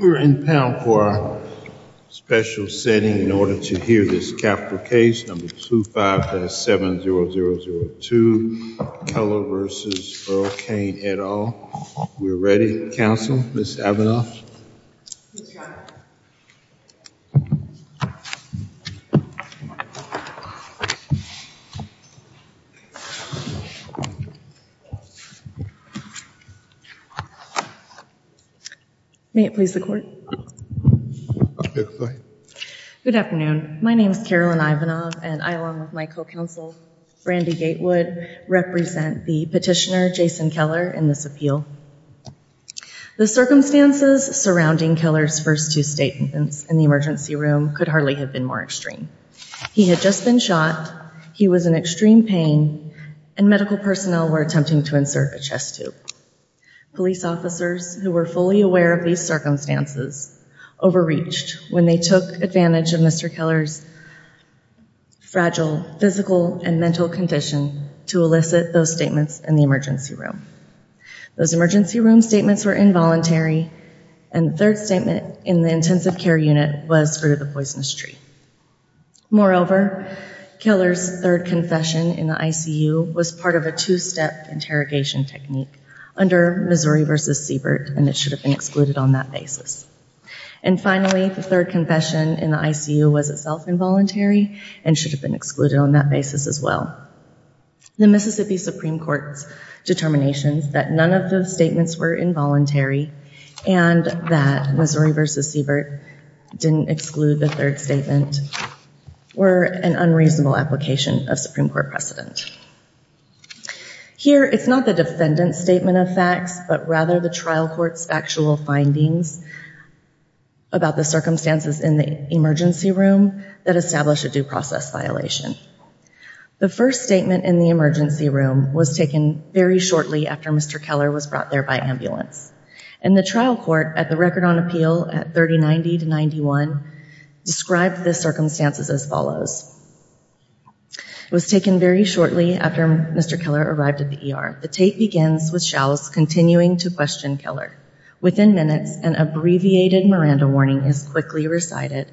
We're in panel for special setting in order to hear this capital case number two five seven zero zero zero two Keller versus Burl Cain et al. We're ready counsel Ms. Avinoff. May it please the court. Good afternoon my name is Carolyn Ivanoff and I along with my co-counsel Brandi Gatewood represent the petitioner Jason Keller in this appeal. The circumstances surrounding Keller's first two statements in the emergency room could hardly have been more extreme. He had just been shot, he was in extreme pain, and medical personnel were attempting to insert a chest tube. Police officers who were fully aware of these circumstances overreached when they took advantage of Mr. Keller's fragile physical and mental condition to elicit those statements in the emergency room. Those emergency room statements were involuntary and the third statement in the intensive care unit was for the poisonous tree. Moreover Keller's third confession in the ICU was part of a two-step interrogation technique under Missouri versus Siebert and it should have been excluded on that basis. And finally the third confession in the ICU was itself involuntary and should have been excluded on that basis as well. The Mississippi Supreme Court's determinations that none of those statements were involuntary and that Missouri versus Siebert didn't exclude the third statement were an unreasonable application of Supreme Court precedent. Here it's not the defendant's statement of facts but rather the trial court's factual findings about the circumstances in the emergency room that established a process violation. The first statement in the emergency room was taken very shortly after Mr. Keller was brought there by ambulance and the trial court at the record on appeal at 3090 to 91 described the circumstances as follows. It was taken very shortly after Mr. Keller arrived at the ER. The tape begins with Shouse continuing to question Keller. Within minutes an abbreviated Miranda warning is quickly recited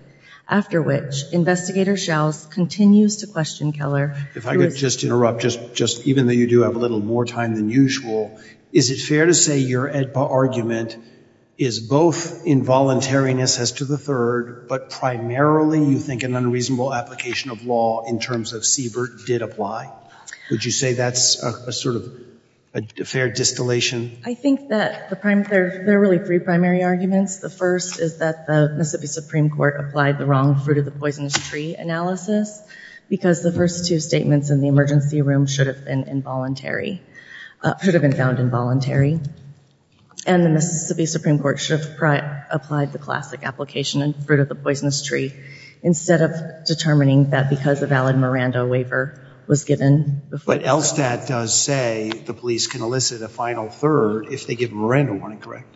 after which investigator Shouse continues to question Keller. If I could just interrupt just just even though you do have a little more time than usual is it fair to say your argument is both involuntariness as to the third but primarily you think an unreasonable application of law in terms of Siebert did apply? Would you say that's a sort of a fair distillation? I think that the prime they're they're really three primary arguments. The first is that the Mississippi Supreme Court applied the wrong fruit-of-the-poisonous-tree analysis because the first two statements in the emergency room should have been involuntary should have been found involuntary and the Mississippi Supreme Court should have applied the classic application and fruit-of-the-poisonous-tree instead of determining that because a valid Miranda waiver was given. But LSTAT does say the police can elicit a final third if they give Miranda warning correct?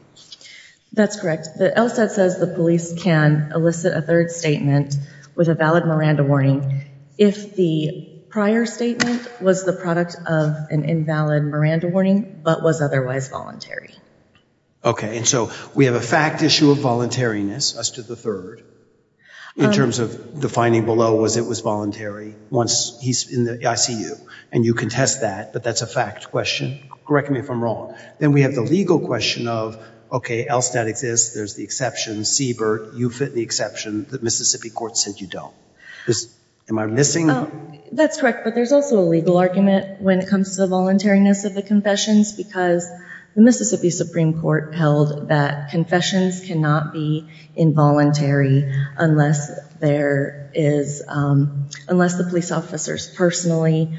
That's correct. The LSTAT says the police can elicit a third statement with a valid Miranda warning if the prior statement was the product of an invalid Miranda warning but was otherwise voluntary. Okay and so we have a fact issue of voluntariness as to the third in terms of defining below was it was voluntary once he's in the ICU and you contest that but that's a fact question correct me if I'm wrong. Then we have the legal question of okay LSTAT exists there's the exception CBERT you fit the exception that Mississippi Court said you don't. Am I missing? That's correct but there's also a legal argument when it comes to the voluntariness of the confessions because the Mississippi Supreme Court held that confessions cannot be involuntary unless there is unless the police officers personally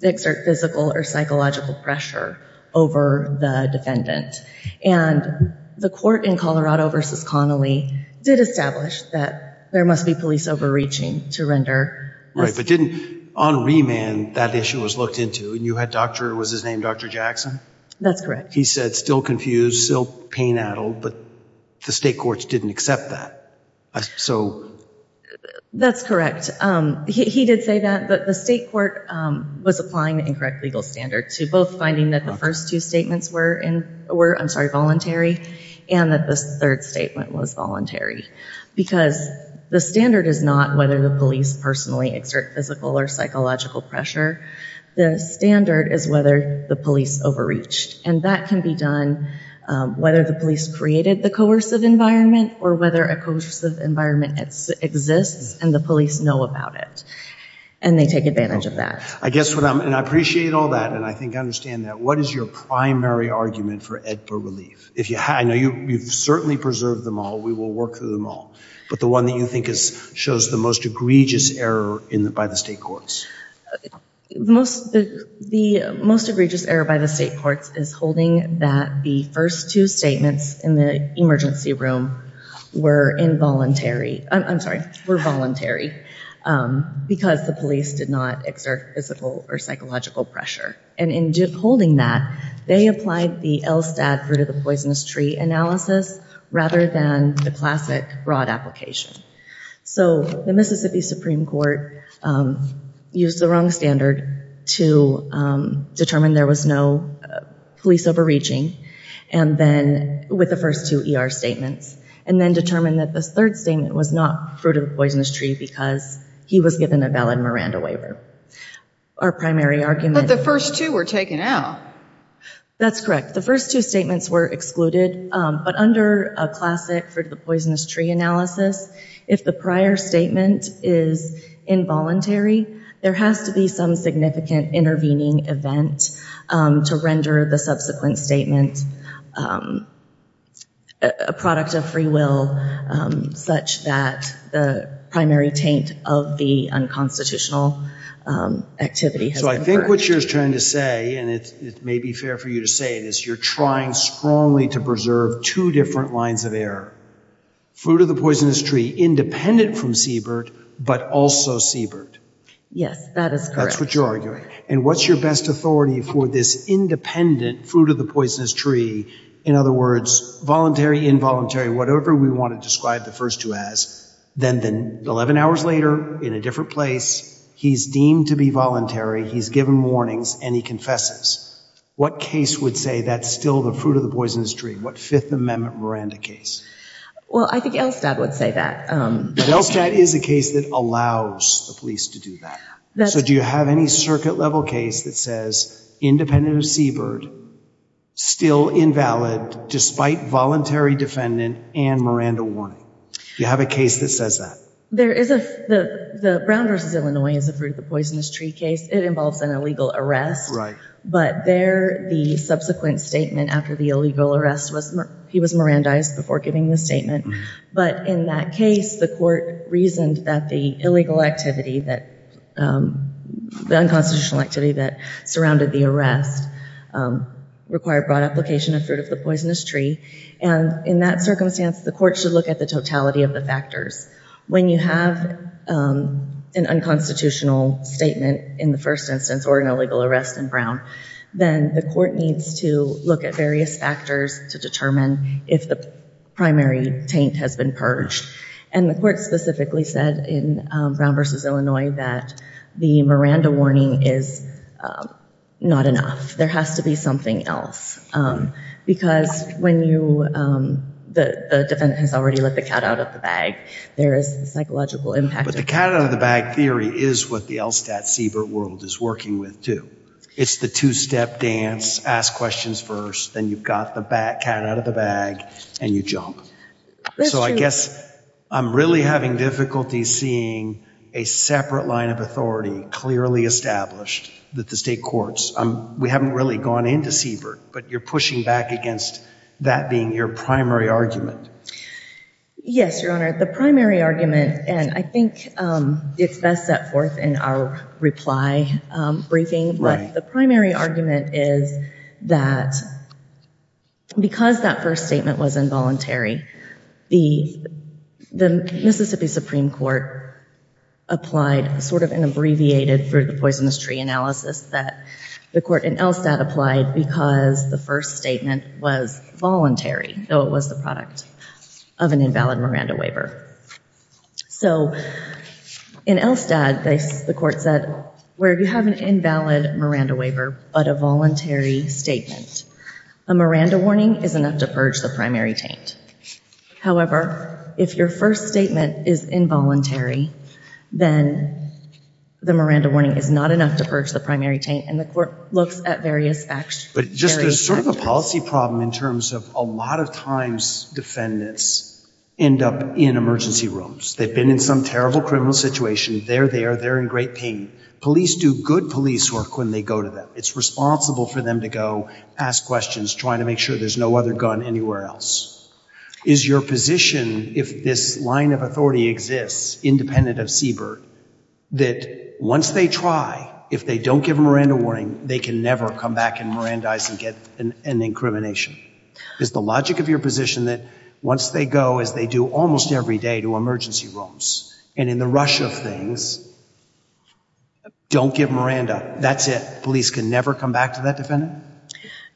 exert physical or psychological pressure over the defendant and the court in Colorado versus Connolly did establish that there must be police overreaching to render. Right but didn't on remand that issue was looked into and you had doctor was his name Dr. Jackson? That's correct. He said still confused still pain addled but the state courts didn't accept that so that's correct he did say that but the state court was applying the incorrect legal standard to both finding that the first two statements were in were I'm sorry voluntary and that this third statement was voluntary because the standard is not whether the police personally exert physical or psychological pressure the standard is whether the police overreached and that can be done whether the police created the coercive environment or whether a coercive environment exists and the police know about it and they take advantage of that. I guess what I'm and I appreciate all that and I think I understand that what is your primary argument for AEDPA relief if you have I know you you've certainly preserved them all we will work through them all but the one that you think is shows the most egregious error in the by the state courts. Most the most egregious error by the state courts is holding that the first two statements in the emergency room were involuntary I'm sorry were voluntary because the police did not exert physical or psychological pressure and in holding that they applied the LSTAT fruit-of-the-poisonous-tree analysis rather than the classic broad application so the Mississippi Supreme Court used the wrong standard to determine there was no police overreaching and then with the first two ER statements and then determine that this third statement was not fruit-of-the-poisonous-tree because he was given a valid Miranda waiver our primary argument the first two were taken out that's correct the first two statements were excluded but under a classic fruit-of-the-poisonous-tree analysis if the prior statement is involuntary there has to be some significant intervening event to render the subsequent statement a product of free will such that the primary taint of the unconstitutional activity so I think what you're trying to say and it may be fair for you to say this you're trying strongly to preserve two different lines of error fruit-of-the-poisonous-tree independent from Siebert but also Siebert yes that is that's what you're arguing and what's your best authority for this independent fruit-of-the-poisonous-tree in other words voluntary involuntary whatever we want to describe the first two as then then 11 hours later in a different place he's deemed to be voluntary he's given warnings and he confesses what case would say that's still the fruit-of-the-poisonous-tree what Fifth Amendment Miranda case well I think Elstad would say that Elstad is a case that allows the police to do that so do you have any circuit level case that says independent of Siebert still invalid despite voluntary defendant and Miranda warning you have a case that says that there is a the Brown vs. Illinois is a fruit-of-the-poisonous-tree case it involves an illegal arrest right but there the subsequent statement after the illegal arrest was he was Mirandized before giving the statement but in that case the court reasoned that the illegal activity that the unconstitutional activity that surrounded the arrest required broad application of fruit-of-the-poisonous-tree and in that circumstance the court should look at the totality of the factors when you have an unconstitutional statement in the first instance or an illegal arrest in Brown then the court needs to look at various factors to determine if the primary taint has been purged and the court specifically said in Brown vs. Illinois that the Miranda warning is not enough there has to be something else because when you the defendant has already let the cat out of the bag there is psychological impact but the cat out of the bag theory is what the Elstad Siebert world is working with too it's the two-step dance ask questions first then you've got the back cat out of the bag and you jump so I guess I'm really having difficulty seeing a separate line of authority clearly established that the state courts um we haven't really gone into Siebert but you're pushing back against that being your primary argument yes your honor the primary argument and I think it's best set forth in our reply briefing but the primary argument is that because that first statement was involuntary the the Mississippi Supreme Court applied sort of an abbreviated for the poisonous tree analysis that the court in Elstad applied because the first statement was voluntary though it was the product of an invalid Miranda waiver so in Elstad the court said where you have an invalid Miranda waiver but a voluntary statement a Miranda warning is enough to purge the primary taint however if your first statement is involuntary then the Miranda warning is not enough to purge the primary taint and the court looks at various facts but just a sort of a policy problem in terms of a lot of times defendants end up in emergency rooms they've been in some terrible criminal situation they're there they're in great pain police do good police work when they go to them it's responsible for them to go ask questions trying to make sure there's no other gun anywhere else is your position if this line of authority exists independent of Siebert that once they try if they don't give a Miranda warning they can never come back and Mirandize and get an incrimination is the logic of your position that once they go as they do almost every day to emergency rooms and in the rush of things don't give Miranda that's it police can never come back to that defendant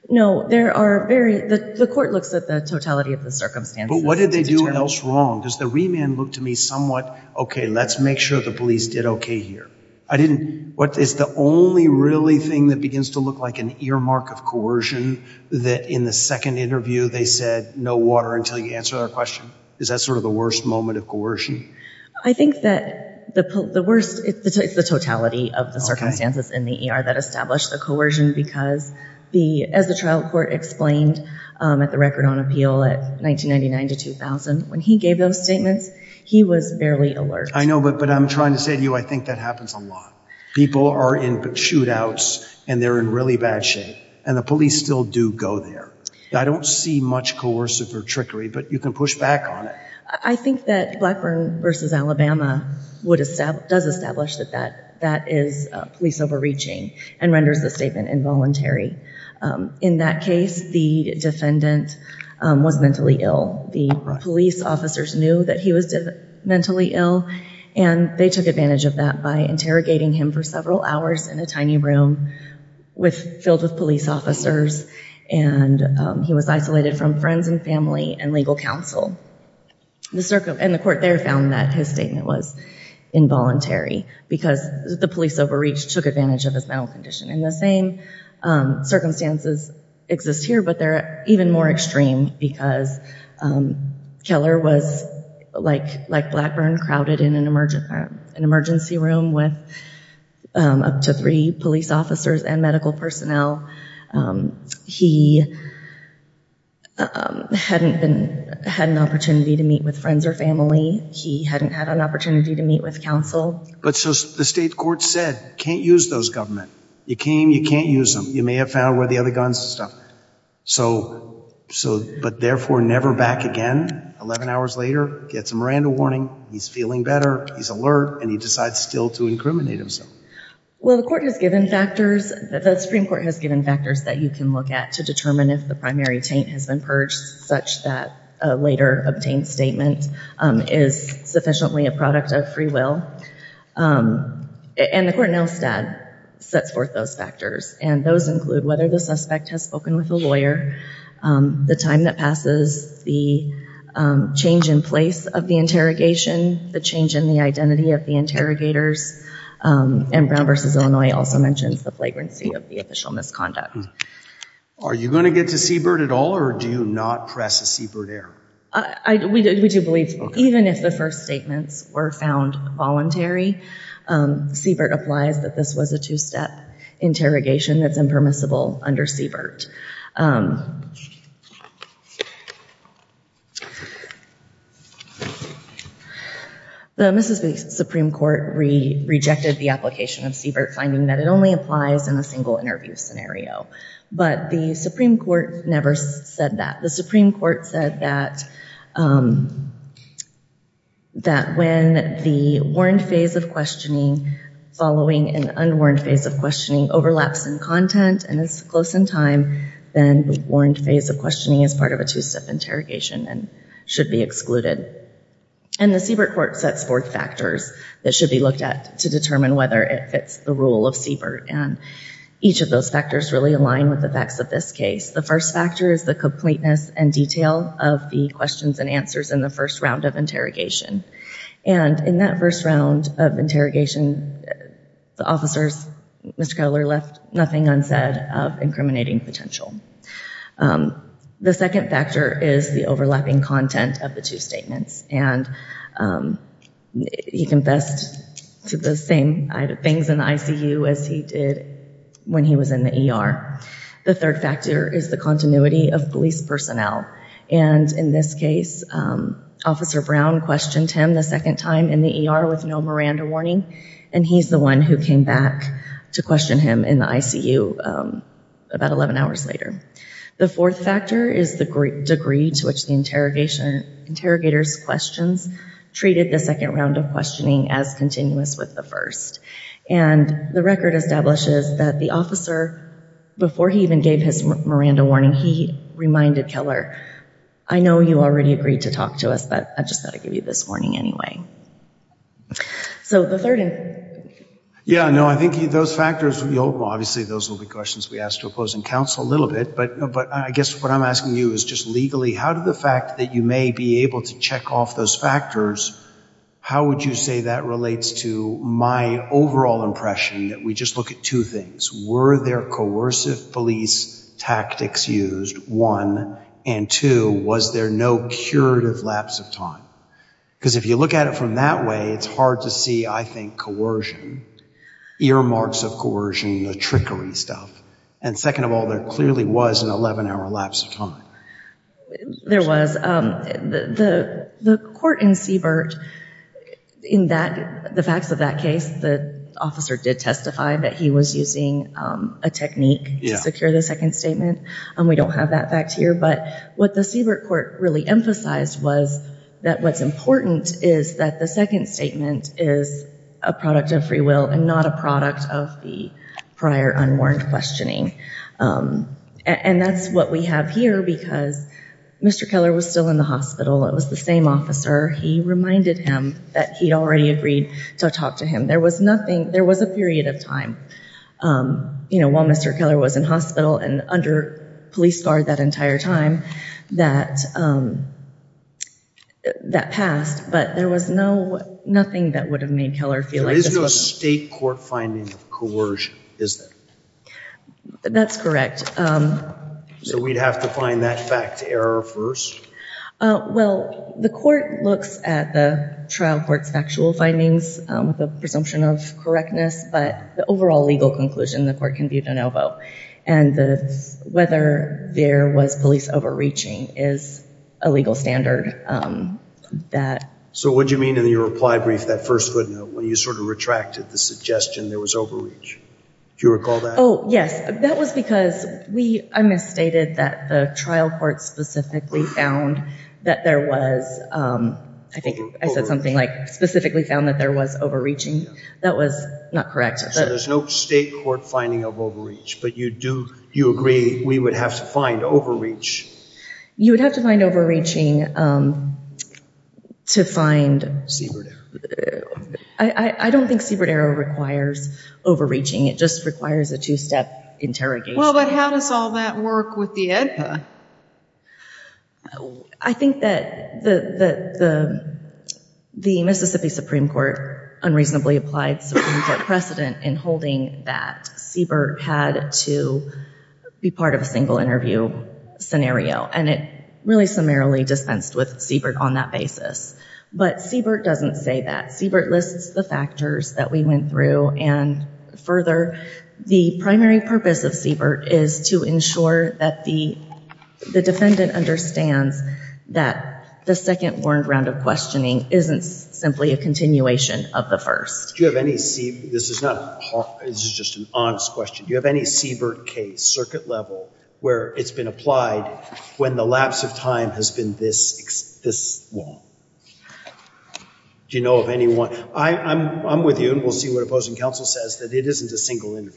no there are very the court looks at the totality of the circumstance but what did they do else wrong does the remand look to me somewhat okay let's make sure the police did okay here I didn't what is the only really thing that begins to look like an earmark of coercion that in the second interview they said no water until you answer our question is that sort of the worst moment of coercion I think that the worst it's the totality of the circumstances in the ER that established the coercion because the as the trial court explained at the record on appeal at 1999 to 2000 when he gave those statements he was barely alert I know but but I'm trying to say to you I think that happens a lot people are input shootouts and they're in really bad and the police still do go there I don't see much coercive or trickery but you can push back on it I think that Blackburn versus Alabama would have stabbed does establish that that that is police overreaching and renders the statement involuntary in that case the defendant was mentally ill the police officers knew that he was mentally ill and they took advantage of that by interrogating him for several hours in a tiny room with filled with police officers and he was isolated from friends and family and legal counsel the circle and the court there found that his statement was involuntary because the police overreach took advantage of his mental condition in the same circumstances exist here but they're even more extreme because Keller was like like Blackburn crowded in an emergent an emergency room with up to three police officers and medical personnel he hadn't been had an opportunity to meet with friends or family he hadn't had an opportunity to meet with counsel but so the state court said can't use those government you came you can't use them you may have found where the other guns and stuff so so but therefore never back again 11 hours later gets a Miranda warning he's feeling better he's alert and he decides still to incriminate himself well the court has given factors that the Supreme Court has given factors that you can look at to determine if the primary taint has been purged such that a later obtained statement is sufficiently a product of free will and the court now stat sets forth those factors and those include whether the suspect has spoken with a lawyer the time that passes the change in place of the interrogation the change in the identity of the interrogators and brown versus Illinois also mentions the flagrancy of the official misconduct are you going to get to seabird at all or do you not press a seabird air I do believe even if the first statements were found voluntary seabird applies that this was a two-step interrogation that's impermissible under seabird the Mississippi Supreme Court rejected the application of seabird finding that it only applies in a single interview scenario but the Supreme Court never said that the Supreme Court said that that when the warrant phase of questioning following an unwarrant phase of questioning overlaps and content and it's close in time then warrant phase of questioning as part of a two-step interrogation and should be excluded and the seabird court sets forth factors that should be looked at to determine whether it fits the rule of seabird and each of those factors really aligned with the facts of this case the first factor is the completeness and detail of the questions and answers in the first round of interrogation and in that first round of interrogation the officers Mr. Keller left nothing unsaid of incriminating potential the second factor is the overlapping content of the two statements and he confessed to the same things in ICU as he did when he was in the ER the third factor is the continuity of police personnel and in this case officer Brown questioned him the second time in the ER with no Miranda warning and he's the one who came back to question him in the ICU about 11 hours later the fourth factor is the degree to which the interrogation interrogators questions treated the second round of questioning as continuous with the first and the record establishes that the officer before he even gave his Miranda warning he reminded Keller I know you already agreed to talk to us but I just thought I'd give you this morning anyway so the third yeah no I think those factors will be open obviously those will be questions we ask to opposing counsel a little bit but but I guess what I'm asking you is just legally how did the fact that you may be able to check off those factors how would you say that relates to my overall impression that we look at two things were there coercive police tactics used one and two was there no curative lapse of time because if you look at it from that way it's hard to see I think coercion earmarks of coercion the trickery stuff and second of all there clearly was an 11-hour lapse of time there was the the court in that the facts of that case the officer did testify that he was using a technique to secure the second statement and we don't have that fact here but what the Siebert court really emphasized was that what's important is that the second statement is a product of free will and not a product of the prior unwarranted questioning and that's what we have here because mr. Keller was still in the officer he reminded him that he'd already agreed to talk to him there was nothing there was a period of time you know while mr. Keller was in hospital and under police guard that entire time that that passed but there was no nothing that would have made Keller feel like there is no state court finding of coercion is that that's correct so we'd have to find that fact error first well the court looks at the trial courts factual findings with a presumption of correctness but the overall legal conclusion the court can be de novo and the whether there was police overreaching is a legal standard that so what do you mean in your reply brief that first footnote when you sort of retracted the suggestion there was overreach do you recall that oh yes that was because we I misstated that the trial court specifically found that there was I think I said something like specifically found that there was overreaching that was not correct so there's no state court finding of overreach but you do you agree we would have to find overreach you would have to find overreaching to find I I don't think Siebert arrow requires overreaching it just requires a two-step interrogation how does all that work I think that the the Mississippi Supreme Court unreasonably applied precedent in holding that Siebert had to be part of a single interview scenario and it really summarily dispensed with Siebert on that basis but Siebert doesn't say that Siebert lists the factors that we went through and further the primary purpose of Siebert is to ensure that the the defendant understands that the second warned round of questioning isn't simply a continuation of the first you have any see this is not it's just an honest question you have any Siebert case circuit level where it's been applied when the lapse of time has been this this long do you know of anyone I I'm with you and we'll see what opposing counsel says that it isn't a single in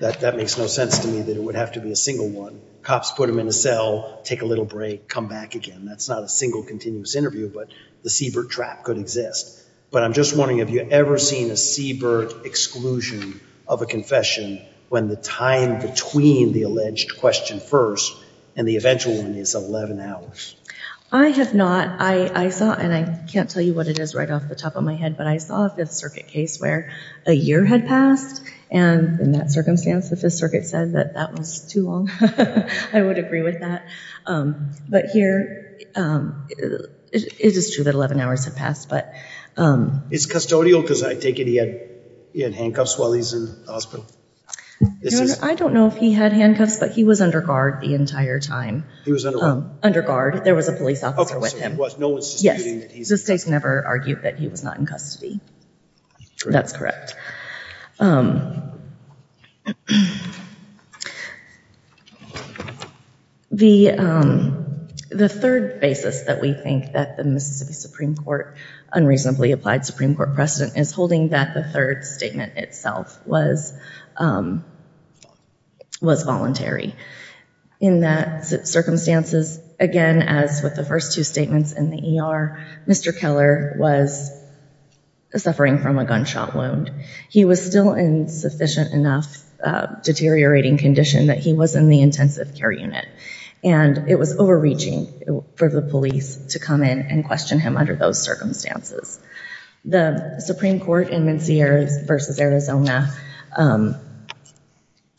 that that makes no sense to me that it would have to be a single one cops put them in a cell take a little break come back again that's not a single continuous interview but the Siebert trap could exist but I'm just wondering have you ever seen a Siebert exclusion of a confession when the time between the alleged question first and the eventual one is 11 hours I have not I I saw and I can't tell you what it is right off the top of my head but I saw a Fifth Circuit case where a year had passed and in that circumstance the Fifth Circuit said that that was too long I would agree with that but here it is true that 11 hours have passed but it's custodial because I take it he had he had handcuffs while he's in the hospital I don't know if he had handcuffs but he was under guard the entire time he was under guard there was a police officer with him what no one's never argued that he was not in custody that's correct the the third basis that we think that the Mississippi Supreme Court unreasonably applied Supreme Court precedent is holding that the third statement itself was was voluntary in that circumstances again as with the first two statements in the ER Mr. Keller was suffering from a gunshot wound he was still in sufficient enough deteriorating condition that he was in the intensive care unit and it was overreaching for the police to come in and question him under those circumstances the Supreme Court in Menzies versus Arizona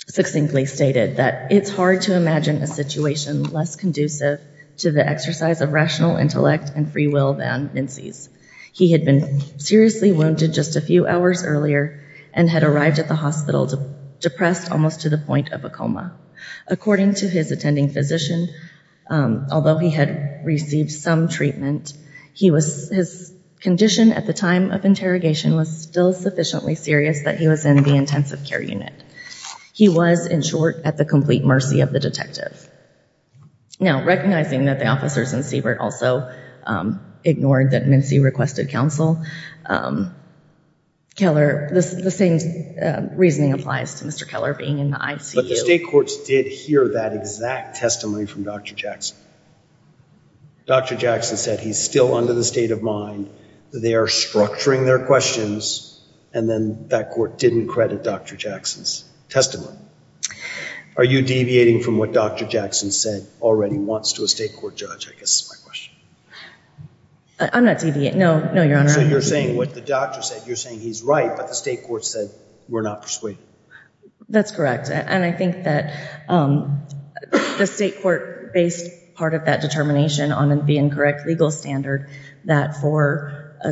succinctly stated that it's hard to imagine a situation less conducive to the exercise of rational intellect and free will than Menzies he had been seriously wounded just a few hours earlier and had arrived at the hospital to depressed almost to the point of a coma according to his attending physician although he had received some treatment he was his condition at the time of interrogation was still sufficiently serious that he was in the intensive care unit he was in at the complete mercy of the detective now recognizing that the officers in Siebert also ignored that Menzies requested counsel Keller this is the same reasoning applies to Mr. Keller being in the ICU but the state courts did hear that exact testimony from dr. Jackson dr. Jackson said he's still under the state of mind they are structuring their questions and then that court didn't credit dr. Jackson's testimony are you deviating from what dr. Jackson said already wants to a state court judge I guess I'm not TV no no you're saying what the doctor said you're saying he's right but the state court said we're not persuaded that's correct and I think that the state court based part of that determination on the incorrect legal standard that for a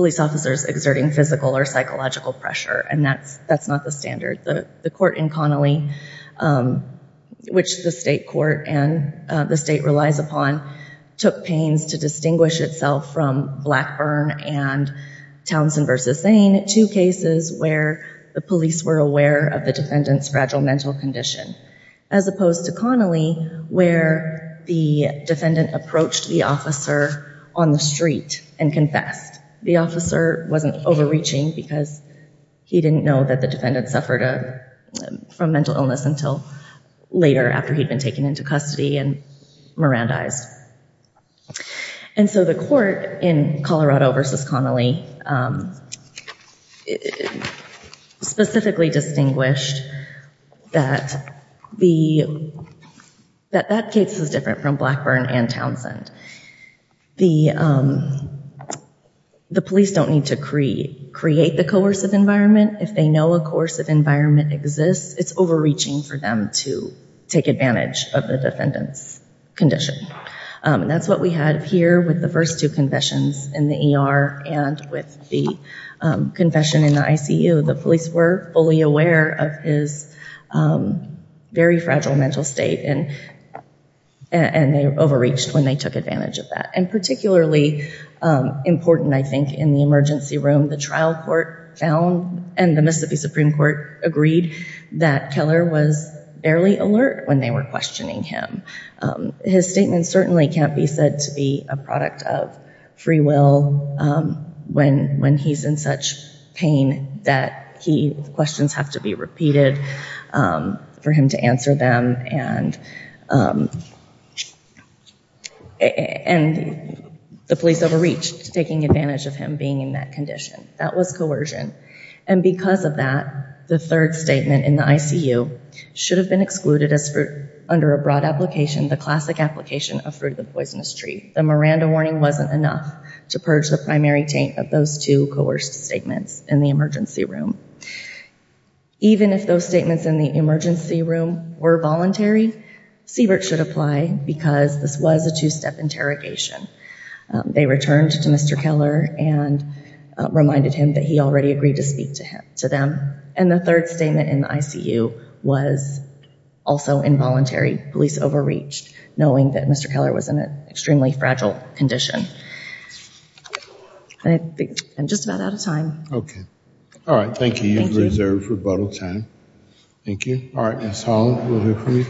police officers exerting physical or psychological pressure and that's that's not the standard the court in Connolly which the state court and the state relies upon took pains to distinguish itself from Blackburn and Townsend versus Zane two cases where the police were aware of the defendants fragile mental condition as opposed to Connolly where the defendant approached the officer on the street and confessed the officer wasn't overreaching because he didn't know that the defendant suffered a from mental illness until later after he'd been taken into custody and Miranda eyes and so the court in Colorado versus Connolly specifically distinguished that the that that case is different from Townsend the the police don't need to create create the coercive environment if they know a course of environment exists it's overreaching for them to take advantage of the defendants condition that's what we had here with the first two confessions in the ER and with the confession in the ICU the police were fully aware of his very fragile mental state and and they overreached when they took advantage of that and particularly important I think in the emergency room the trial court found and the Mississippi Supreme Court agreed that Keller was barely alert when they were questioning him his statement certainly can't be said to be a product of free will when when he's in such pain that he questions have to be repeated for him to answer them and and the police overreach taking advantage of him being in that condition that was coercion and because of that the third statement in the ICU should have been excluded as for under a broad application the classic application of through the poisonous tree the Miranda warning wasn't enough to purge the Mary Tate of those two coerced statements in the emergency room even if those statements in the emergency room were voluntary Siebert should apply because this was a two-step interrogation they returned to mr. Keller and reminded him that he already agreed to speak to him to them and the third statement in the ICU was also involuntary police overreach knowing that mr. Keller was in an extremely fragile condition I think I'm just about out of time okay all right thank you you reserved for bottle time thank you all right that's all may it please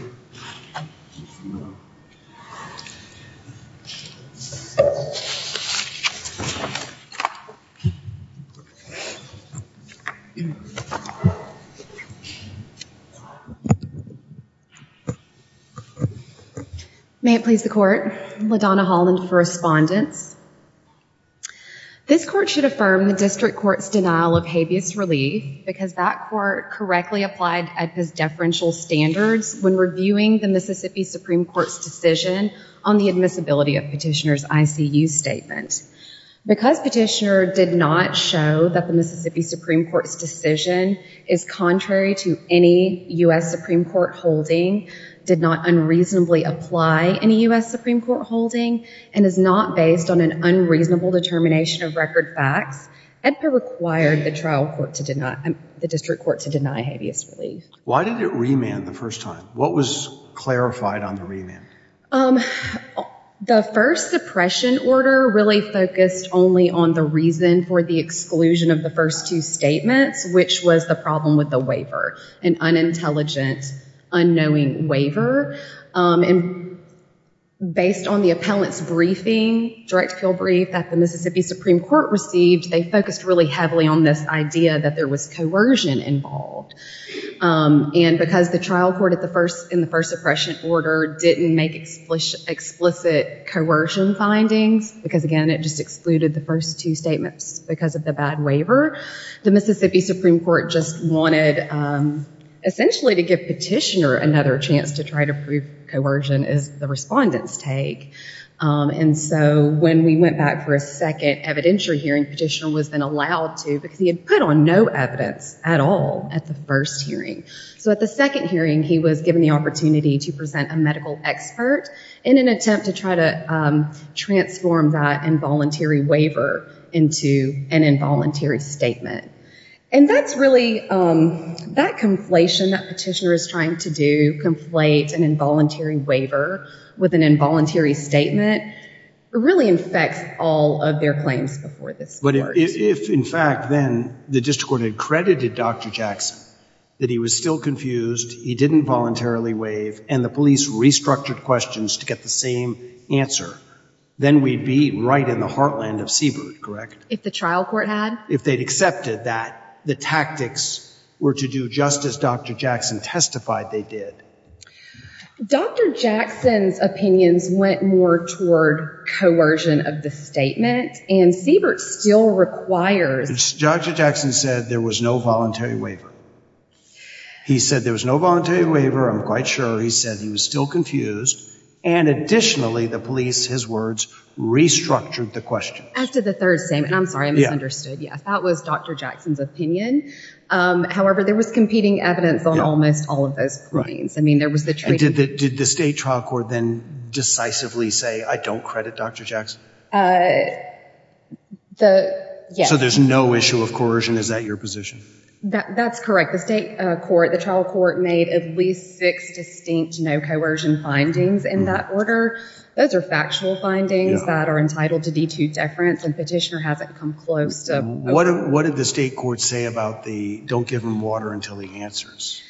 the court LaDonna Holland for respondents this court should denial of habeas relief because that court correctly applied at his deferential standards when reviewing the Mississippi Supreme Court's decision on the admissibility of petitioners ICU statement because petitioner did not show that the Mississippi Supreme Court's decision is contrary to any US Supreme Court holding did not unreasonably apply any US Supreme Court holding and is not based on an unreasonable determination of record facts and per required the trial court to deny the district court to deny habeas relief why did it remand the first time what was clarified on the remand the first suppression order really focused only on the reason for the exclusion of the first two statements which was the problem with waiver an unintelligent unknowing waiver and based on the appellants briefing direct kill brief that the Mississippi Supreme Court received they focused really heavily on this idea that there was coercion involved and because the trial court at the first in the first suppression order didn't make explicit explicit coercion findings because again it just excluded the first two statements because of the bad waiver the Mississippi Supreme Court just wanted essentially to give petitioner another chance to try to prove coercion is the respondents take and so when we went back for a second evidentiary hearing petitioner was been allowed to because he had put on no evidence at all at the first hearing so at the second hearing he was given the opportunity to present a medical expert in an attempt to try to transform that involuntary waiver into an involuntary statement and that's really that conflation that petitioner is trying to do conflate an involuntary waiver with an involuntary statement really infects all of their claims before this but if in fact then the district court had credited dr. Jackson that he was still confused he didn't voluntarily waive and the police restructured questions to get the same answer then we'd be right in the heartland of Siebert correct if the trial court had if they'd accepted that the tactics were to do justice dr. Jackson testified they did dr. Jackson's opinions went more toward coercion of the statement and Siebert still requires dr. Jackson said there was no voluntary waiver he said there was no voluntary waiver I'm quite sure he said he was still confused and additionally the police his words restructured the question after the third statement I'm sorry I'm understood yes that was dr. Jackson's opinion however there was competing evidence on almost all of those brains I mean there was the truth did the state trial court then decisively say I don't credit dr. Jackson the yeah so there's no issue of coercion is that your position that that's correct the state court the trial court made at least six distinct no coercion findings in that order those are factual findings that are entitled to be to deference and petitioner hasn't come close to what what did the state court say about the don't give him water until he answers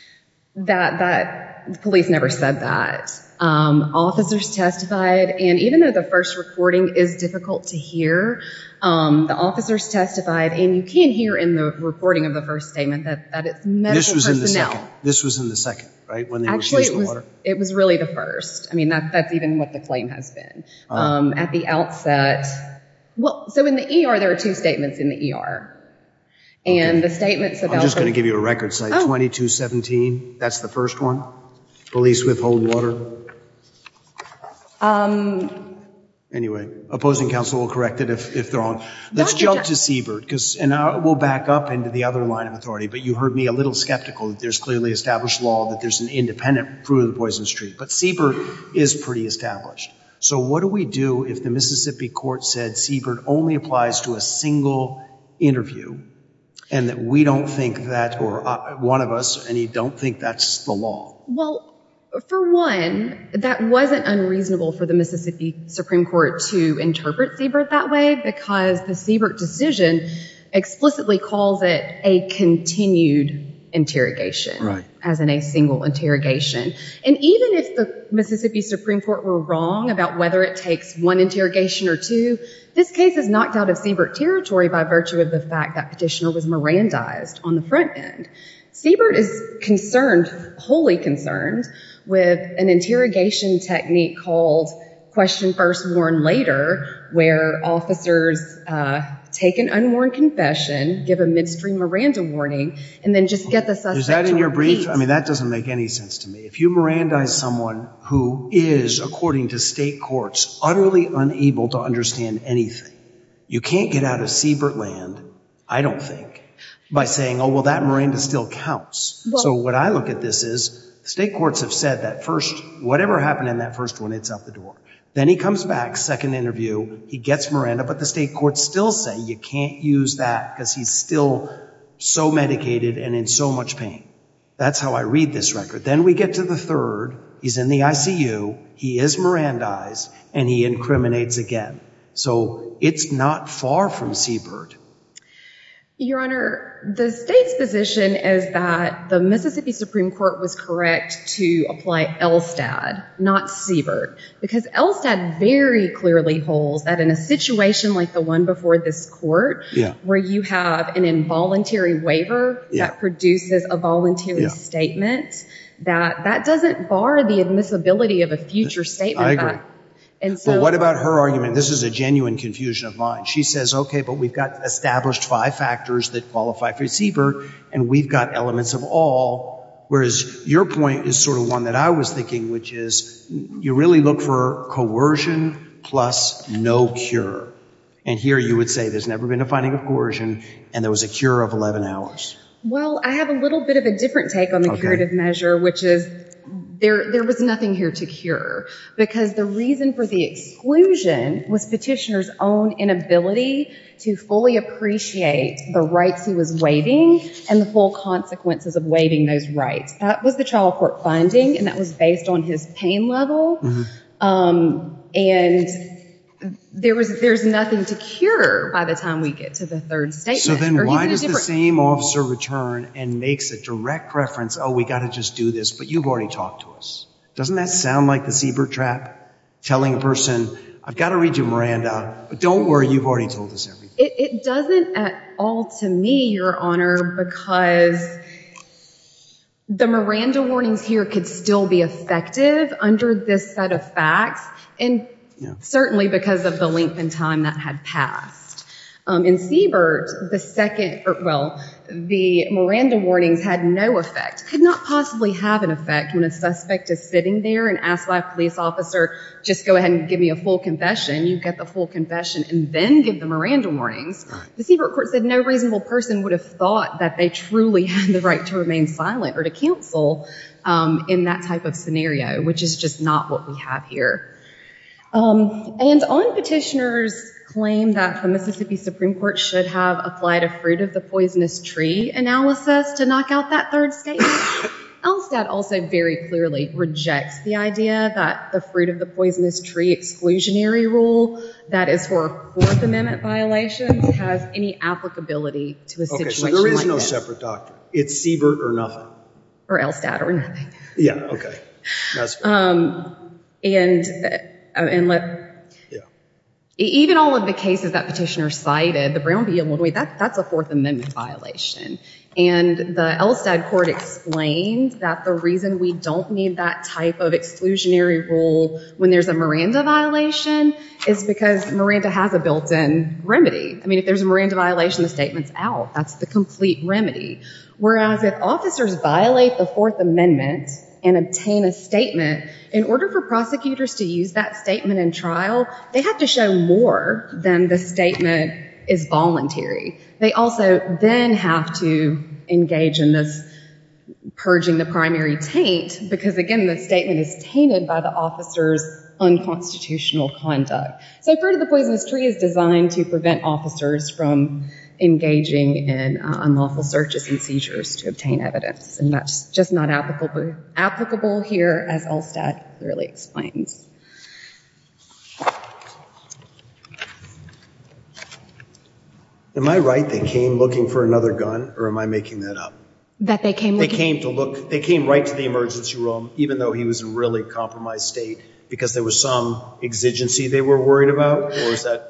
that that police never said that officers testified and even though the first recording is difficult to hear the officers testified and you can't hear in the recording of the first statement that this was in the second this was in the second right when actually it was really the first I mean that that's even what the claim has been at the outset well so in the ER there are two statements in the ER and the statements about just going to give you a record say 20 to 17 that's the first one police withhold water anyway opposing counsel will correct it if they're on let's jump to Siebert because and I will back up into the other line of authority but you heard me a little skeptical there's clearly established law that there's an independent through the Poison Street but Siebert is pretty established so what do we do if the Mississippi court said Siebert only applies to a single interview and that we don't think that or one of us and you don't think that's the law well for one that wasn't unreasonable for the Mississippi Supreme Court to interpret Siebert that way because the Siebert decision explicitly calls it a continued interrogation right as in a single interrogation and even if the Mississippi Supreme Court were wrong about whether it takes one interrogation or two this case is knocked out of Siebert territory by virtue of the fact that petitioner was Miran dies on the front end Siebert is concerned wholly concerned with an interrogation technique called question first warn later where officers take an unworn confession give a midstream Miranda warning and then just get this is that in your brief I mean that doesn't make any sense to me if you Miranda is someone who is according to state courts utterly unable to understand anything you can't get out of Siebert land I don't think by saying oh well that Miranda still counts so what I look at this is state courts have said that first whatever happened in that first one it's out the door then he comes back second interview he gets Miranda but the state courts still say you can't use that because he's still so medicated and in so much pain that's how I read this record then we get to the third he's in the ICU he is Miran dies and he incriminates again so it's not far from Siebert your honor the state's position is that the Mississippi Supreme Court was correct to apply Elstad not Siebert because Elstad very clearly holds that in a situation like the one before this court yeah where you have an involuntary waiver that produces a voluntary statement that that doesn't bar the admissibility of a future statement and so what about her argument this is a genuine confusion of mine she says okay but we've got established five factors that qualify for Siebert and we've got elements of all whereas your point is sort of one that I was thinking which is you really look for coercion plus no cure and here you would say there's never been a finding of coercion and there was a cure of 11 hours well I have a little bit of a different take on the curative measure which is there there was nothing here to cure because the reason for the exclusion was petitioners own inability to fully appreciate the rights he was waiving and the full consequences of waiving those rights that was the trial court finding and that was based on his pain level and there was there's nothing to cure by the time we get to the third statement then why does the same officer return and makes a direct reference oh we got to just do this but you've already talked to us doesn't that sound like the Siebert trap telling a person I've got to read you Miranda but don't worry it doesn't at all to me your honor because the Miranda warnings here could still be effective under this set of facts and certainly because of the length and time that had passed in Siebert the second well the Miranda warnings had no effect could not possibly have an effect when a suspect is sitting there and asked by police officer just go ahead and give me a full confession you get the full confession and then give the Miranda warnings the Siebert court said no reasonable person would have thought that they truly had the right to remain silent or to counsel in that type of scenario which is just not what we have here and on petitioners claim that the Mississippi Supreme Court should have applied a fruit of the poisonous tree analysis to knock out that third state else that also very clearly rejects the idea that the fruit of the poisonous tree exclusionary rule that is for fourth amendment violation has any applicability to a situation there is no separate doctor it's Siebert or nothing or else dad or nothing yeah okay um and and let even all of the cases that petitioner cited the brown be able to wait that that's a fourth amendment violation and the Elstad court explained that the reason we don't need that type of exclusionary rule when there's a Miranda violation is because Miranda has a built-in remedy I mean if there's a Miranda violation the statements out that's the complete remedy whereas if officers violate the Fourth Amendment and obtain a statement in order for prosecutors to use that statement in trial they have to show more than the statement is voluntary they also then have to engage in this purging the primary taint because again the statement is tainted by the officers unconstitutional conduct so part of the poisonous tree is designed to prevent officers from engaging in unlawful searches and seizures to obtain evidence and that's just not applicable applicable here as all stat really explains am I right they came looking for another gun or am I making that up that they came they came to look they came right to the emergency room even though he was really compromised state because there was some exigency they were worried about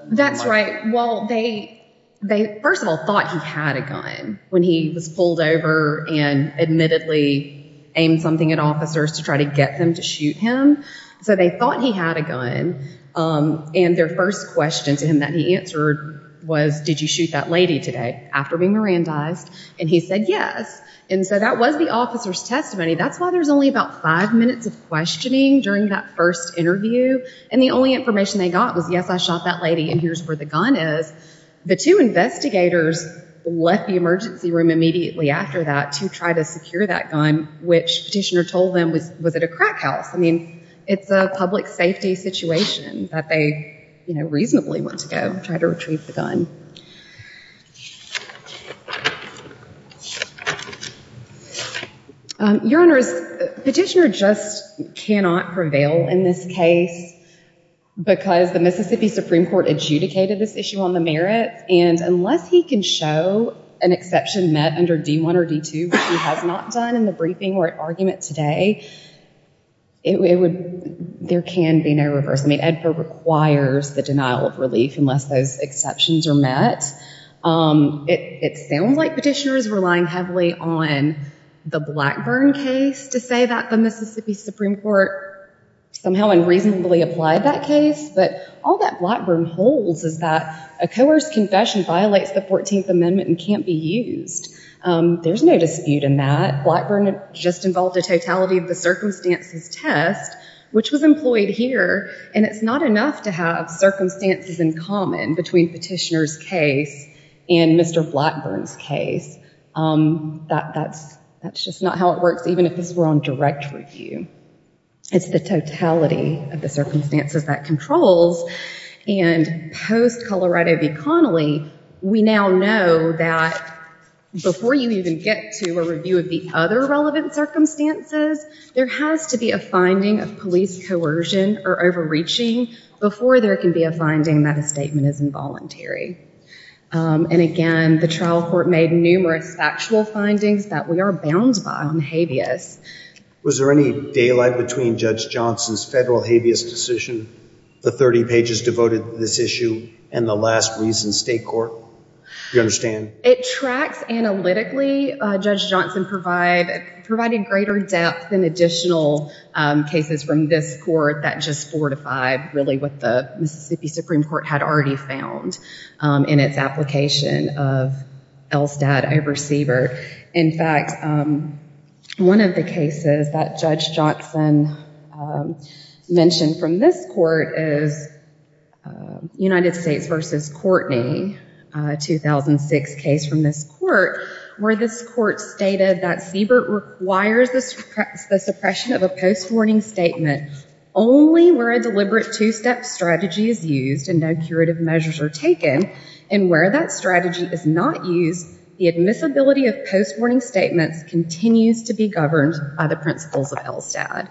that's right well they they first of all thought he had a gun when he was pulled over and admittedly aimed something at officers to try to get them to shoot him so they thought he had a gun and their first question to him that he answered was did you shoot that lady today after being Mirandized and he said yes and so that was the officer's testimony that's why there's only about five minutes of questioning during that first interview and the only information they got was yes I shot that lady and here's where the gun is the two investigators left the emergency room immediately after that to try to secure that gun which petitioner told them was was it a crack house I mean it's a public safety situation that they you know reasonably want to go try to retrieve the gun your honors petitioner just cannot prevail in this case because the Mississippi Supreme Court adjudicated this issue on the merits and unless he can show an exception met under d1 or d2 which he has not done in the briefing or at argument today it would there can be no reverse I mean EDPA requires the denial of relief unless those exceptions are met it sounds like petitioners relying heavily on the Blackburn case to say that the Mississippi Supreme Court somehow unreasonably applied that case but all that Blackburn holds is that a coerced confession violates the 14th amendment and can't be used there's no dispute in that Blackburn just involved a totality of the circumstances test which was employed here and it's not enough to have circumstances in common between petitioners case and mr. Blackburn's case that that's that's just not how it works even if this were on direct review it's the totality of the circumstances that controls and post Colorado v Connolly we now know that before you even get to a review of the other relevant circumstances there has to be a finding of police coercion or overreaching before there can be a finding that a statement is involuntary and again the trial court made numerous factual findings that we are bound by on was there any daylight between judge Johnson's federal habeas decision the 30 pages devoted this issue and the last reason state court you understand it tracks analytically judge Johnson provide provided greater depth and additional cases from this court that just fortified really what the Mississippi Supreme Court had already found in its application of Elstad a one of the cases that judge Johnson mentioned from this court is United States versus Courtney 2006 case from this court where this court stated that Siebert requires the suppress the suppression of a post-warning statement only where a deliberate two-step strategy is used and no curative measures are taken and where that strategy is not used the admissibility of post-warning statements continues to be governed by the principles of Elstad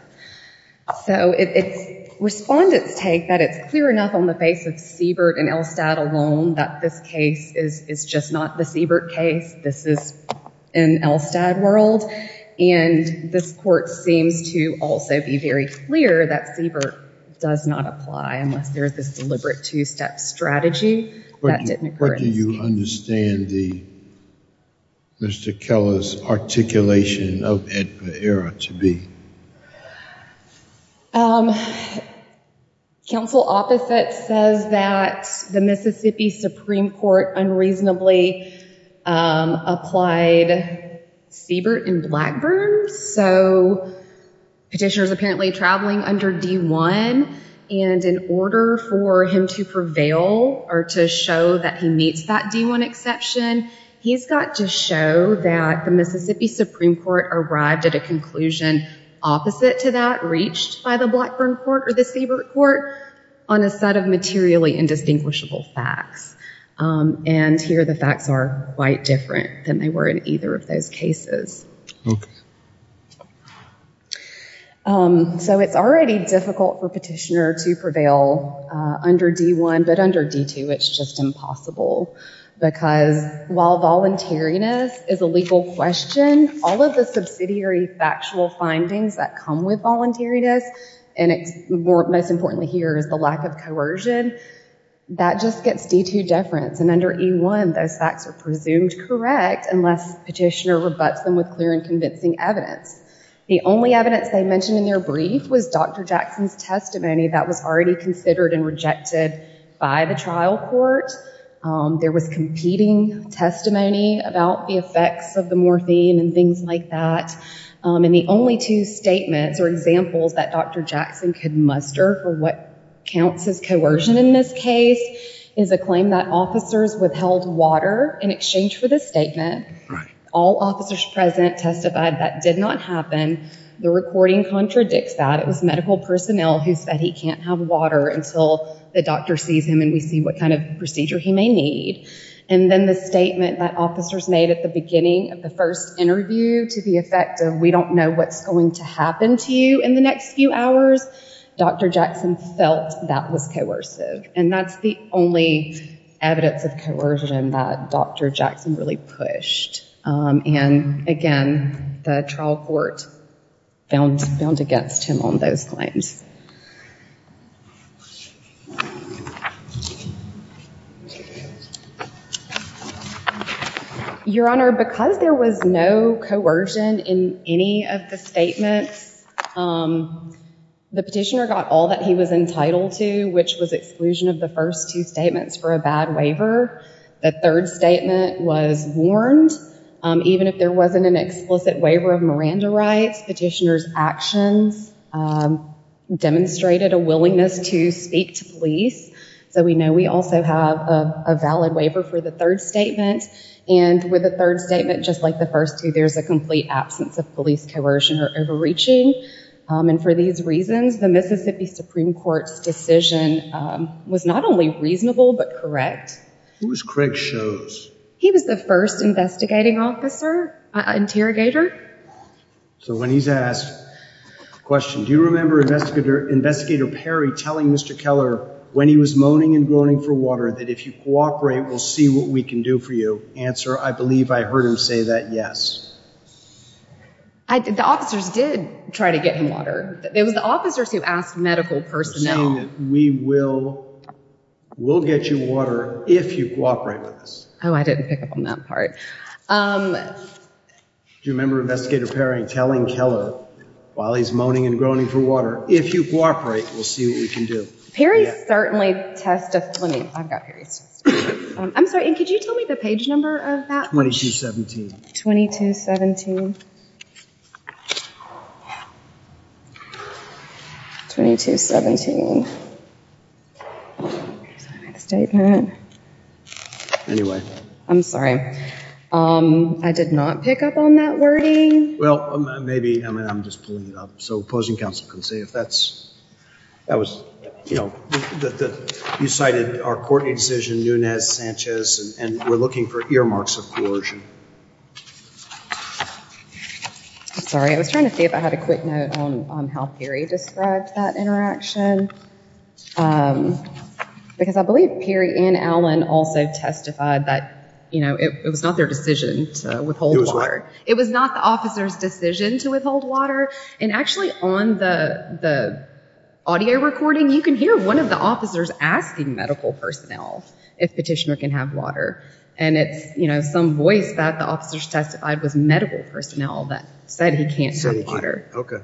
so it's respondents take that it's clear enough on the face of Siebert and Elstad alone that this case is it's just not the Siebert case this is an Elstad world and this court seems to also be very clear that Siebert does not apply unless there's this deliberate two-step strategy what do you understand the mr. Keller's articulation of it era to be counsel opposite says that the Mississippi Supreme Court unreasonably applied Siebert in Blackburn so petitioners apparently traveling under d1 and in order for him to prevail or to show that he meets that d1 exception he's got to show that the Mississippi Supreme Court arrived at a conclusion opposite to that reached by the Blackburn Court or the Siebert Court on a set of materially indistinguishable facts and here the facts are quite different than they were in either of those cases so it's already difficult for petitioner to prevail under d1 but under d2 it's just impossible because while voluntariness is a legal question all of the subsidiary factual findings that come with voluntariness and it's more most importantly here is the lack of coercion that just gets d2 difference and under e1 those facts are presumed correct unless petitioner rebuts them with clear and convincing evidence the only evidence they mentioned in their brief was dr. Jackson's testimony that was already considered and rejected by the trial court there was competing testimony about the effects of the morphine and things like that and the only two statements or examples that dr. Jackson could muster for what counts as coercion in this case is a claim that officers withheld water in exchange for this statement all officers present testified that did not happen the recording contradicts that it was medical personnel who said he can't have water until the doctor sees him and we see what kind of procedure he may need and then the statement that officers made at the beginning of the first interview to the effect of we don't know what's going to happen to you in the next few hours dr. Jackson felt that was coercive and that's the only evidence of that dr. Jackson really pushed and again the trial court found found against him on those claims your honor because there was no coercion in any of the statements the petitioner got all that he was entitled to which was exclusion of the first two statements for a bad waiver the third statement was warned even if there wasn't an explicit waiver of Miranda rights petitioners actions demonstrated a willingness to speak to police so we know we also have a valid waiver for the third statement and with a third statement just like the first two there's a complete absence of police coercion or overreaching and for these reasons the Mississippi Supreme Court's decision was not only reasonable but correct was Craig shows he was the first investigating officer interrogator so when he's asked question do you remember investigator investigator Perry telling Mr. Keller when he was moaning and groaning for water that if you cooperate we'll see what we can do for you answer I believe I heard him say that yes I did officers did try to get him water it was the officers who asked medical personnel we will we'll get you water if you cooperate with us oh I didn't pick up on that part do you remember investigator Perry telling Keller while he's moaning and groaning for water if you cooperate we'll see what we can do Perry certainly test a funny I've got 2217 statement anyway I'm sorry um I did not pick up on that wording well maybe I'm just pulling it up so opposing counsel can see if that's that was you know that you cited our court decision Nunez Sanchez and we're looking for earmarks of coercion sorry I was trying to see if I had a quick note on how Perry described that interaction because I believe Perry and Alan also testified that you know it was not their decision to withhold water it was not the officer's decision to withhold water and actually on the the audio recording you can hear one of the officers asking medical personnel if petitioner can have water and it's you know some voice that the officers testified was medical personnel that said he can't say water okay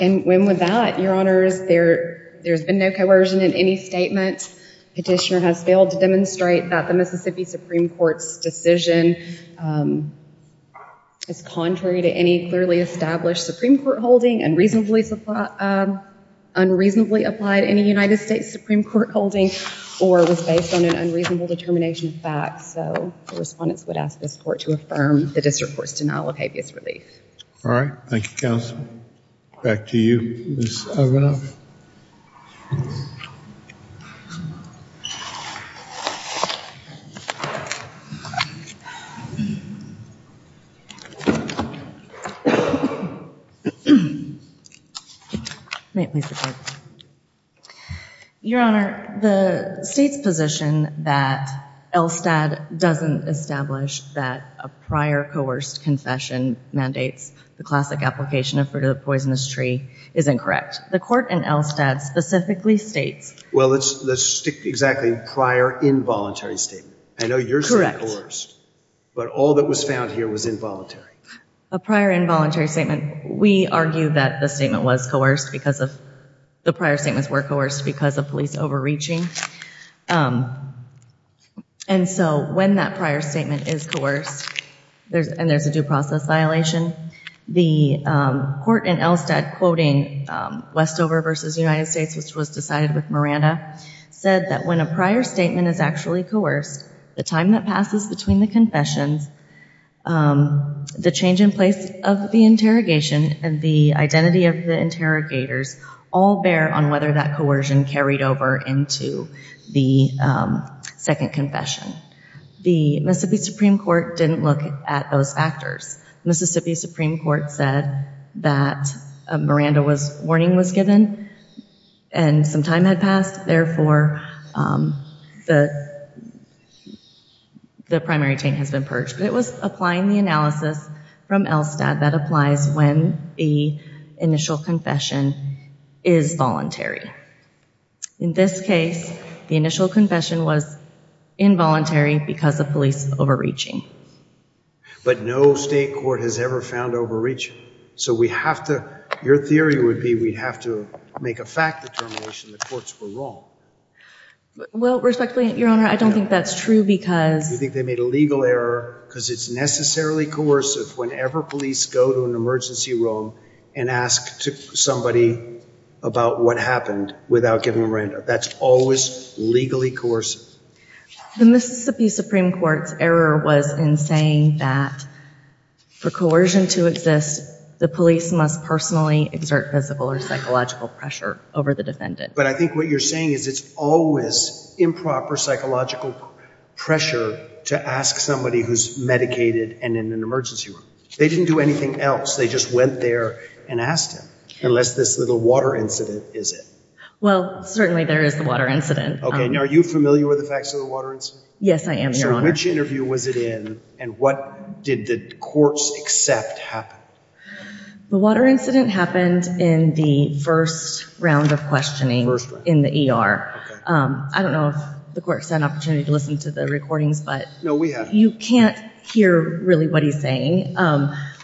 and when with that your honors there there's been no coercion in any statement petitioner has failed to demonstrate that the Mississippi Supreme Court's decision is contrary to any clearly established Supreme Court holding and reasonably supply unreasonably applied in a United States Supreme Court holding or was based on an unreasonable determination of fact so the respondents would ask this court to affirm the district court's denial of habeas relief all right thank you back to you your honor the state's position that Elstad doesn't establish that a prior coerced confession mandates the classic application of fruit-of-the-poisonous-tree is incorrect the court and Elstad specifically states well it's the stick exactly prior involuntary statement I know you're correct but all that was found here was involuntary a prior involuntary statement we argue that the statement was coerced because of the prior statements were coerced because of police overreaching and so when that prior statement is coerced there's and there's a due process violation the court and Elstad quoting Westover versus United States which was decided with Miranda said that when a prior statement is actually coerced the time that passes between the confessions the change in place of the interrogation and the identity of the interrogators all bear on whether that coercion carried over into the second confession the Mississippi Supreme Court didn't look at those factors Mississippi Supreme Court said that Miranda was warning was given and some time had passed therefore the the primary chain has been purged but it was applying the analysis from Elstad that applies when the initial confession is voluntary in this case the initial confession was involuntary because of police overreaching but no state court has ever found overreach so we have to your theory would be we have to make a fact the courts were wrong well respectfully your honor I don't think that's true because you think they made a legal error because it's necessarily coercive whenever police go to an and ask somebody about what happened without giving Miranda that's always legally course the Mississippi Supreme Court's error was in saying that for coercion to exist the police must personally exert physical or psychological pressure over the defendant but I think what you're saying is it's always improper psychological pressure to ask somebody who's medicated and in an emergency room they didn't do anything else they just went there and asked him unless this little water incident is it well certainly there is the water incident okay now are you familiar with the facts of the water incident yes I am which interview was it in and what did the courts except happen the water incident happened in the first round of questioning in the ER I don't know if the court's an opportunity to listen to the recordings but no we have you can't hear really what he's saying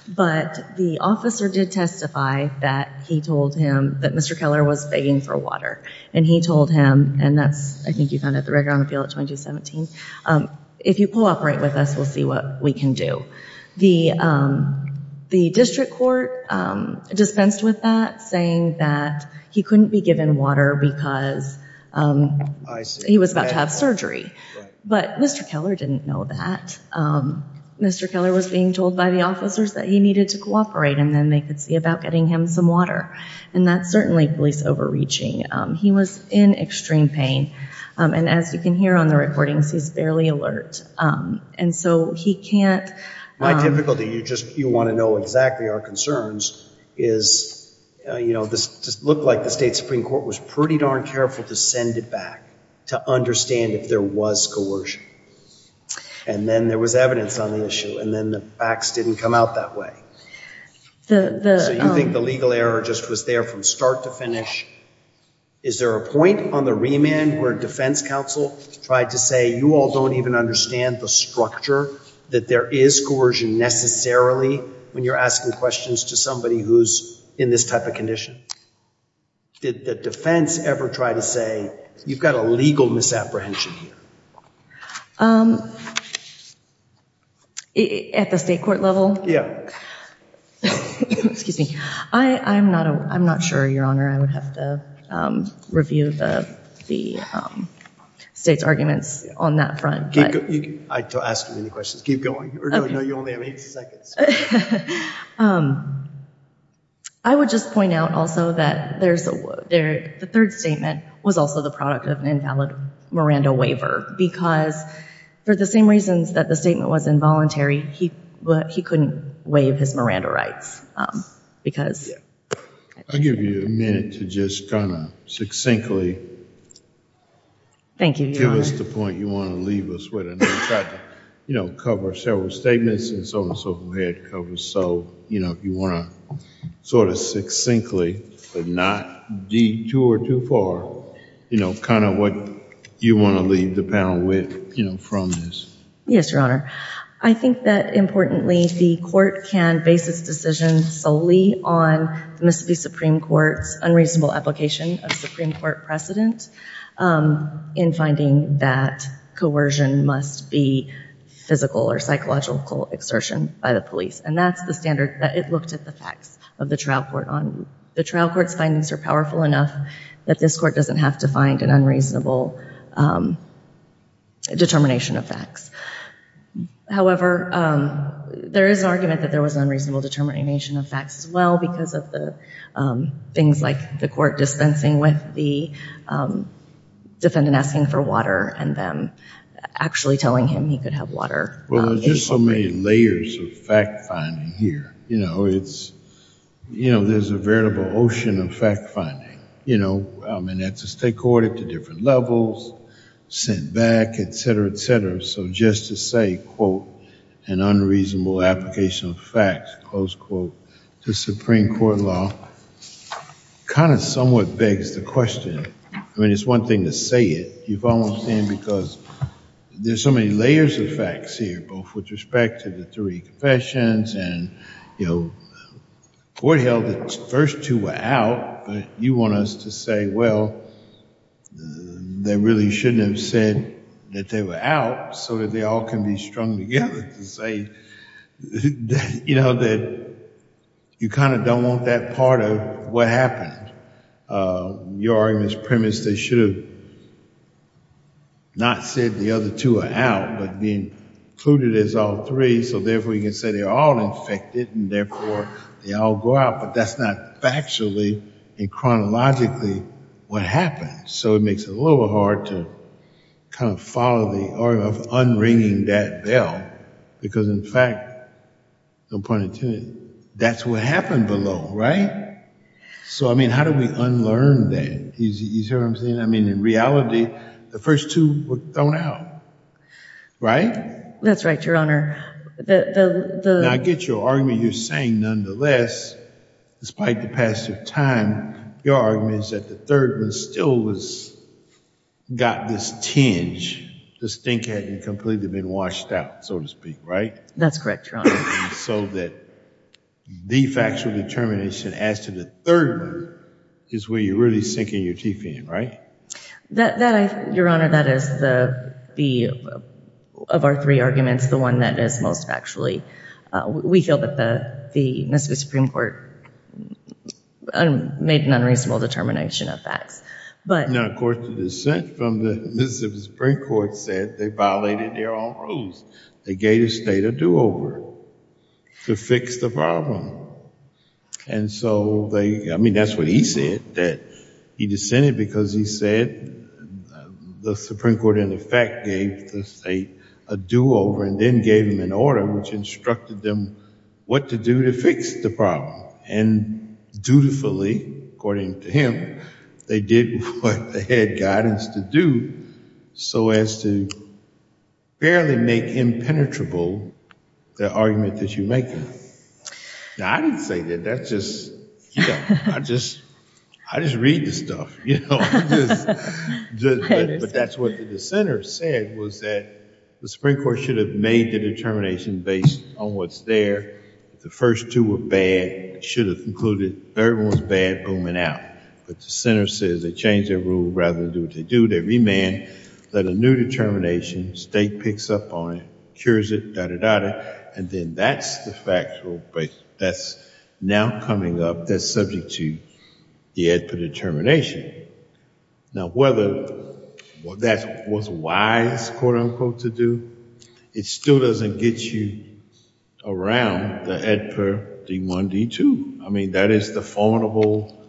but the officer did testify that he told him that mr. Keller was begging for water and he told him and that's I think you found out the record on appeal at 2017 if you cooperate with us we'll see what we can do the the district court dispensed with that saying that he couldn't be given water because he was about to have but mr. Keller didn't know that mr. Keller was being told by the officers that he needed to cooperate and then they could see about getting him some water and that's certainly police overreaching he was in extreme pain and as you can hear on the recordings he's barely alert and so he can't my difficulty you just you want to know exactly our concerns is you know this just looked like the state Supreme Court was pretty darn careful to send it back to understand if there was coercion and then there was evidence on the issue and then the facts didn't come out that way the you think the legal error just was there from start to finish is there a point on the remand where defense counsel tried to say you all don't even understand the structure that there is coercion necessarily when you're asking questions to somebody who's in this type did the defense ever try to say you've got a legal misapprehension at the state court level yeah excuse me I I'm not I'm not sure your honor I would have to review the the state's arguments on that front I asked you any questions keep I would just point out also that there's a there the third statement was also the product of an invalid Miranda waiver because for the same reasons that the statement was involuntary he but he couldn't waive his Miranda rights because I'll give you a minute to just gonna succinctly thank you give us the you know cover several statements and so on so we had to cover so you know if you want to sort of succinctly but not detour too far you know kind of what you want to leave the panel with you know from this yes your honor I think that importantly the court can base its decision solely on the Mississippi Supreme Court's unreasonable application of Supreme Court precedent in finding that coercion must be physical or psychological exertion by the police and that's the standard that it looked at the facts of the trial court on the trial courts findings are powerful enough that this court doesn't have to find an unreasonable determination of facts however there is an argument that there was an unreasonable determination of facts as well because of the things like the court dispensing with the defendant asking for water and them actually telling him he could have water well there's just so many layers of fact finding here you know it's you know there's a variable ocean of fact finding you know I mean that's a stakeholder to different levels sent back etc etc so just to say quote an unreasonable application of facts close quote the Supreme Court law kind of somewhat begs the question I mean it's one thing to say it you've almost in because there's so many layers of facts here both with respect to the three confessions and you know court held the first two were out but you want us to say well they really shouldn't have said that they were out so that they all can be strung together to say you know that you kind of don't want that part of what happened your arguments premise they should have not said the other two are out but being included as all three so therefore you can say they're all infected and therefore they all go out but that's not factually and chronologically what happened so it makes it a little hard to kind of follow the order of unringing that Bell because in fact no point in tuning that's what happened below right so I mean how do we unlearn that he's here I'm saying I mean in reality the first two were thrown out right that's right your honor the I get your argument you're saying nonetheless despite the time your argument is that the third was still was got this tinge the stink hadn't completely been washed out so to speak right that's correct so that the factual determination as to the third one is where you're really sinking your teeth in right that your honor that is the the of our three arguments the one that is most actually we feel that the the Mississippi Supreme Court made an unreasonable determination of facts but now of course the descent from the Mississippi Supreme Court said they violated their own rules they gave the state a do-over to fix the problem and so they I mean that's what he said that he dissented because he said the Supreme Court in effect gave the state a do-over and then gave him an order which instructed them what to do to fix the problem and dutifully according to him they did what the head guidance to do so as to barely make impenetrable the argument that you make now I didn't say that that's just you know I just I just read the stuff you know but that's what the center said was that the Supreme Court should have made the determination based on what's there the first two were bad should have included everyone's bad booming out but the center says they change their rule rather than do what they do they remand that a new determination state picks up on it cures it da da da da and then that's the factual but that's now coming up that's subject to the EDPR determination now whether what that was wise quote-unquote to do it still doesn't get you around the EDPR D1 D2 I mean that is the formidable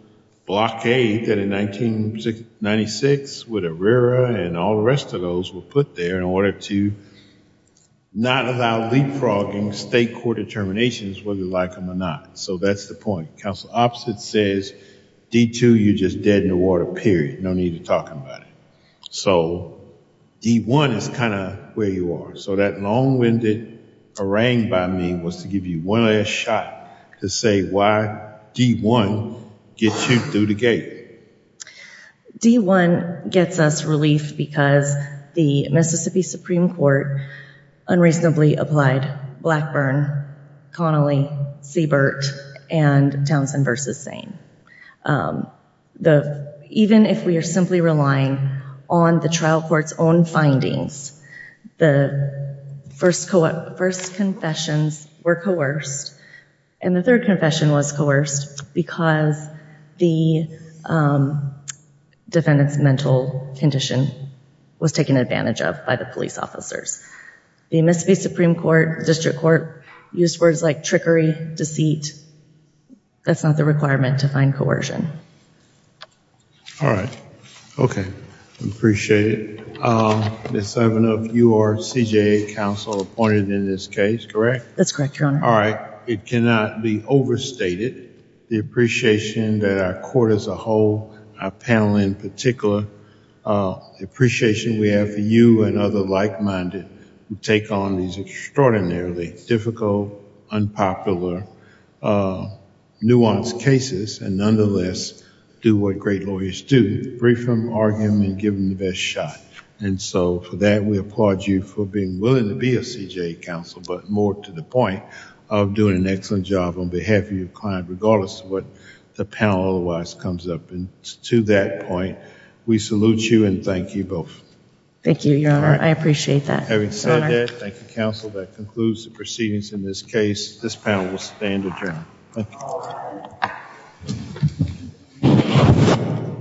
blockade that in 1996 with a RERA and all the rest of those were put there in order to not allow leapfrogging state court determinations whether you like them or not so that's the point council opposite says D2 you just dead in the water period no need to talk about it so D1 is kind of where you are so that long-winded harangue by me was to give you one last shot to say why D1 gets you through the gate D1 gets us relief because the Mississippi Supreme Court unreasonably applied Blackburn Connolly Siebert and Townsend versus same the even if we are simply relying on the trial courts own findings the first co-op first confessions were coerced and the third confession was coerced because the defendants mental condition was taken advantage of by the police officers the Mississippi Supreme Court district court used words like trickery deceit that's not the requirement to find coercion all right okay appreciate it the seven of you are CJA counsel appointed in this case correct that's correct all right it cannot be overstated the appreciation that our court as a whole a panel in particular appreciation we have for you and other like-minded who take on these extraordinarily difficult unpopular nuanced cases and nonetheless do what great lawyers do brief them argument give them the best shot and so for that we applaud you for being willing to be a CJA counsel but more to the point of doing an excellent job on behalf of your client regardless of what the panel otherwise comes up and to that point we salute you and thank you both thank you your honor I appreciate that having said that thank you counsel that concludes the proceedings in this case this panel will stand adjourned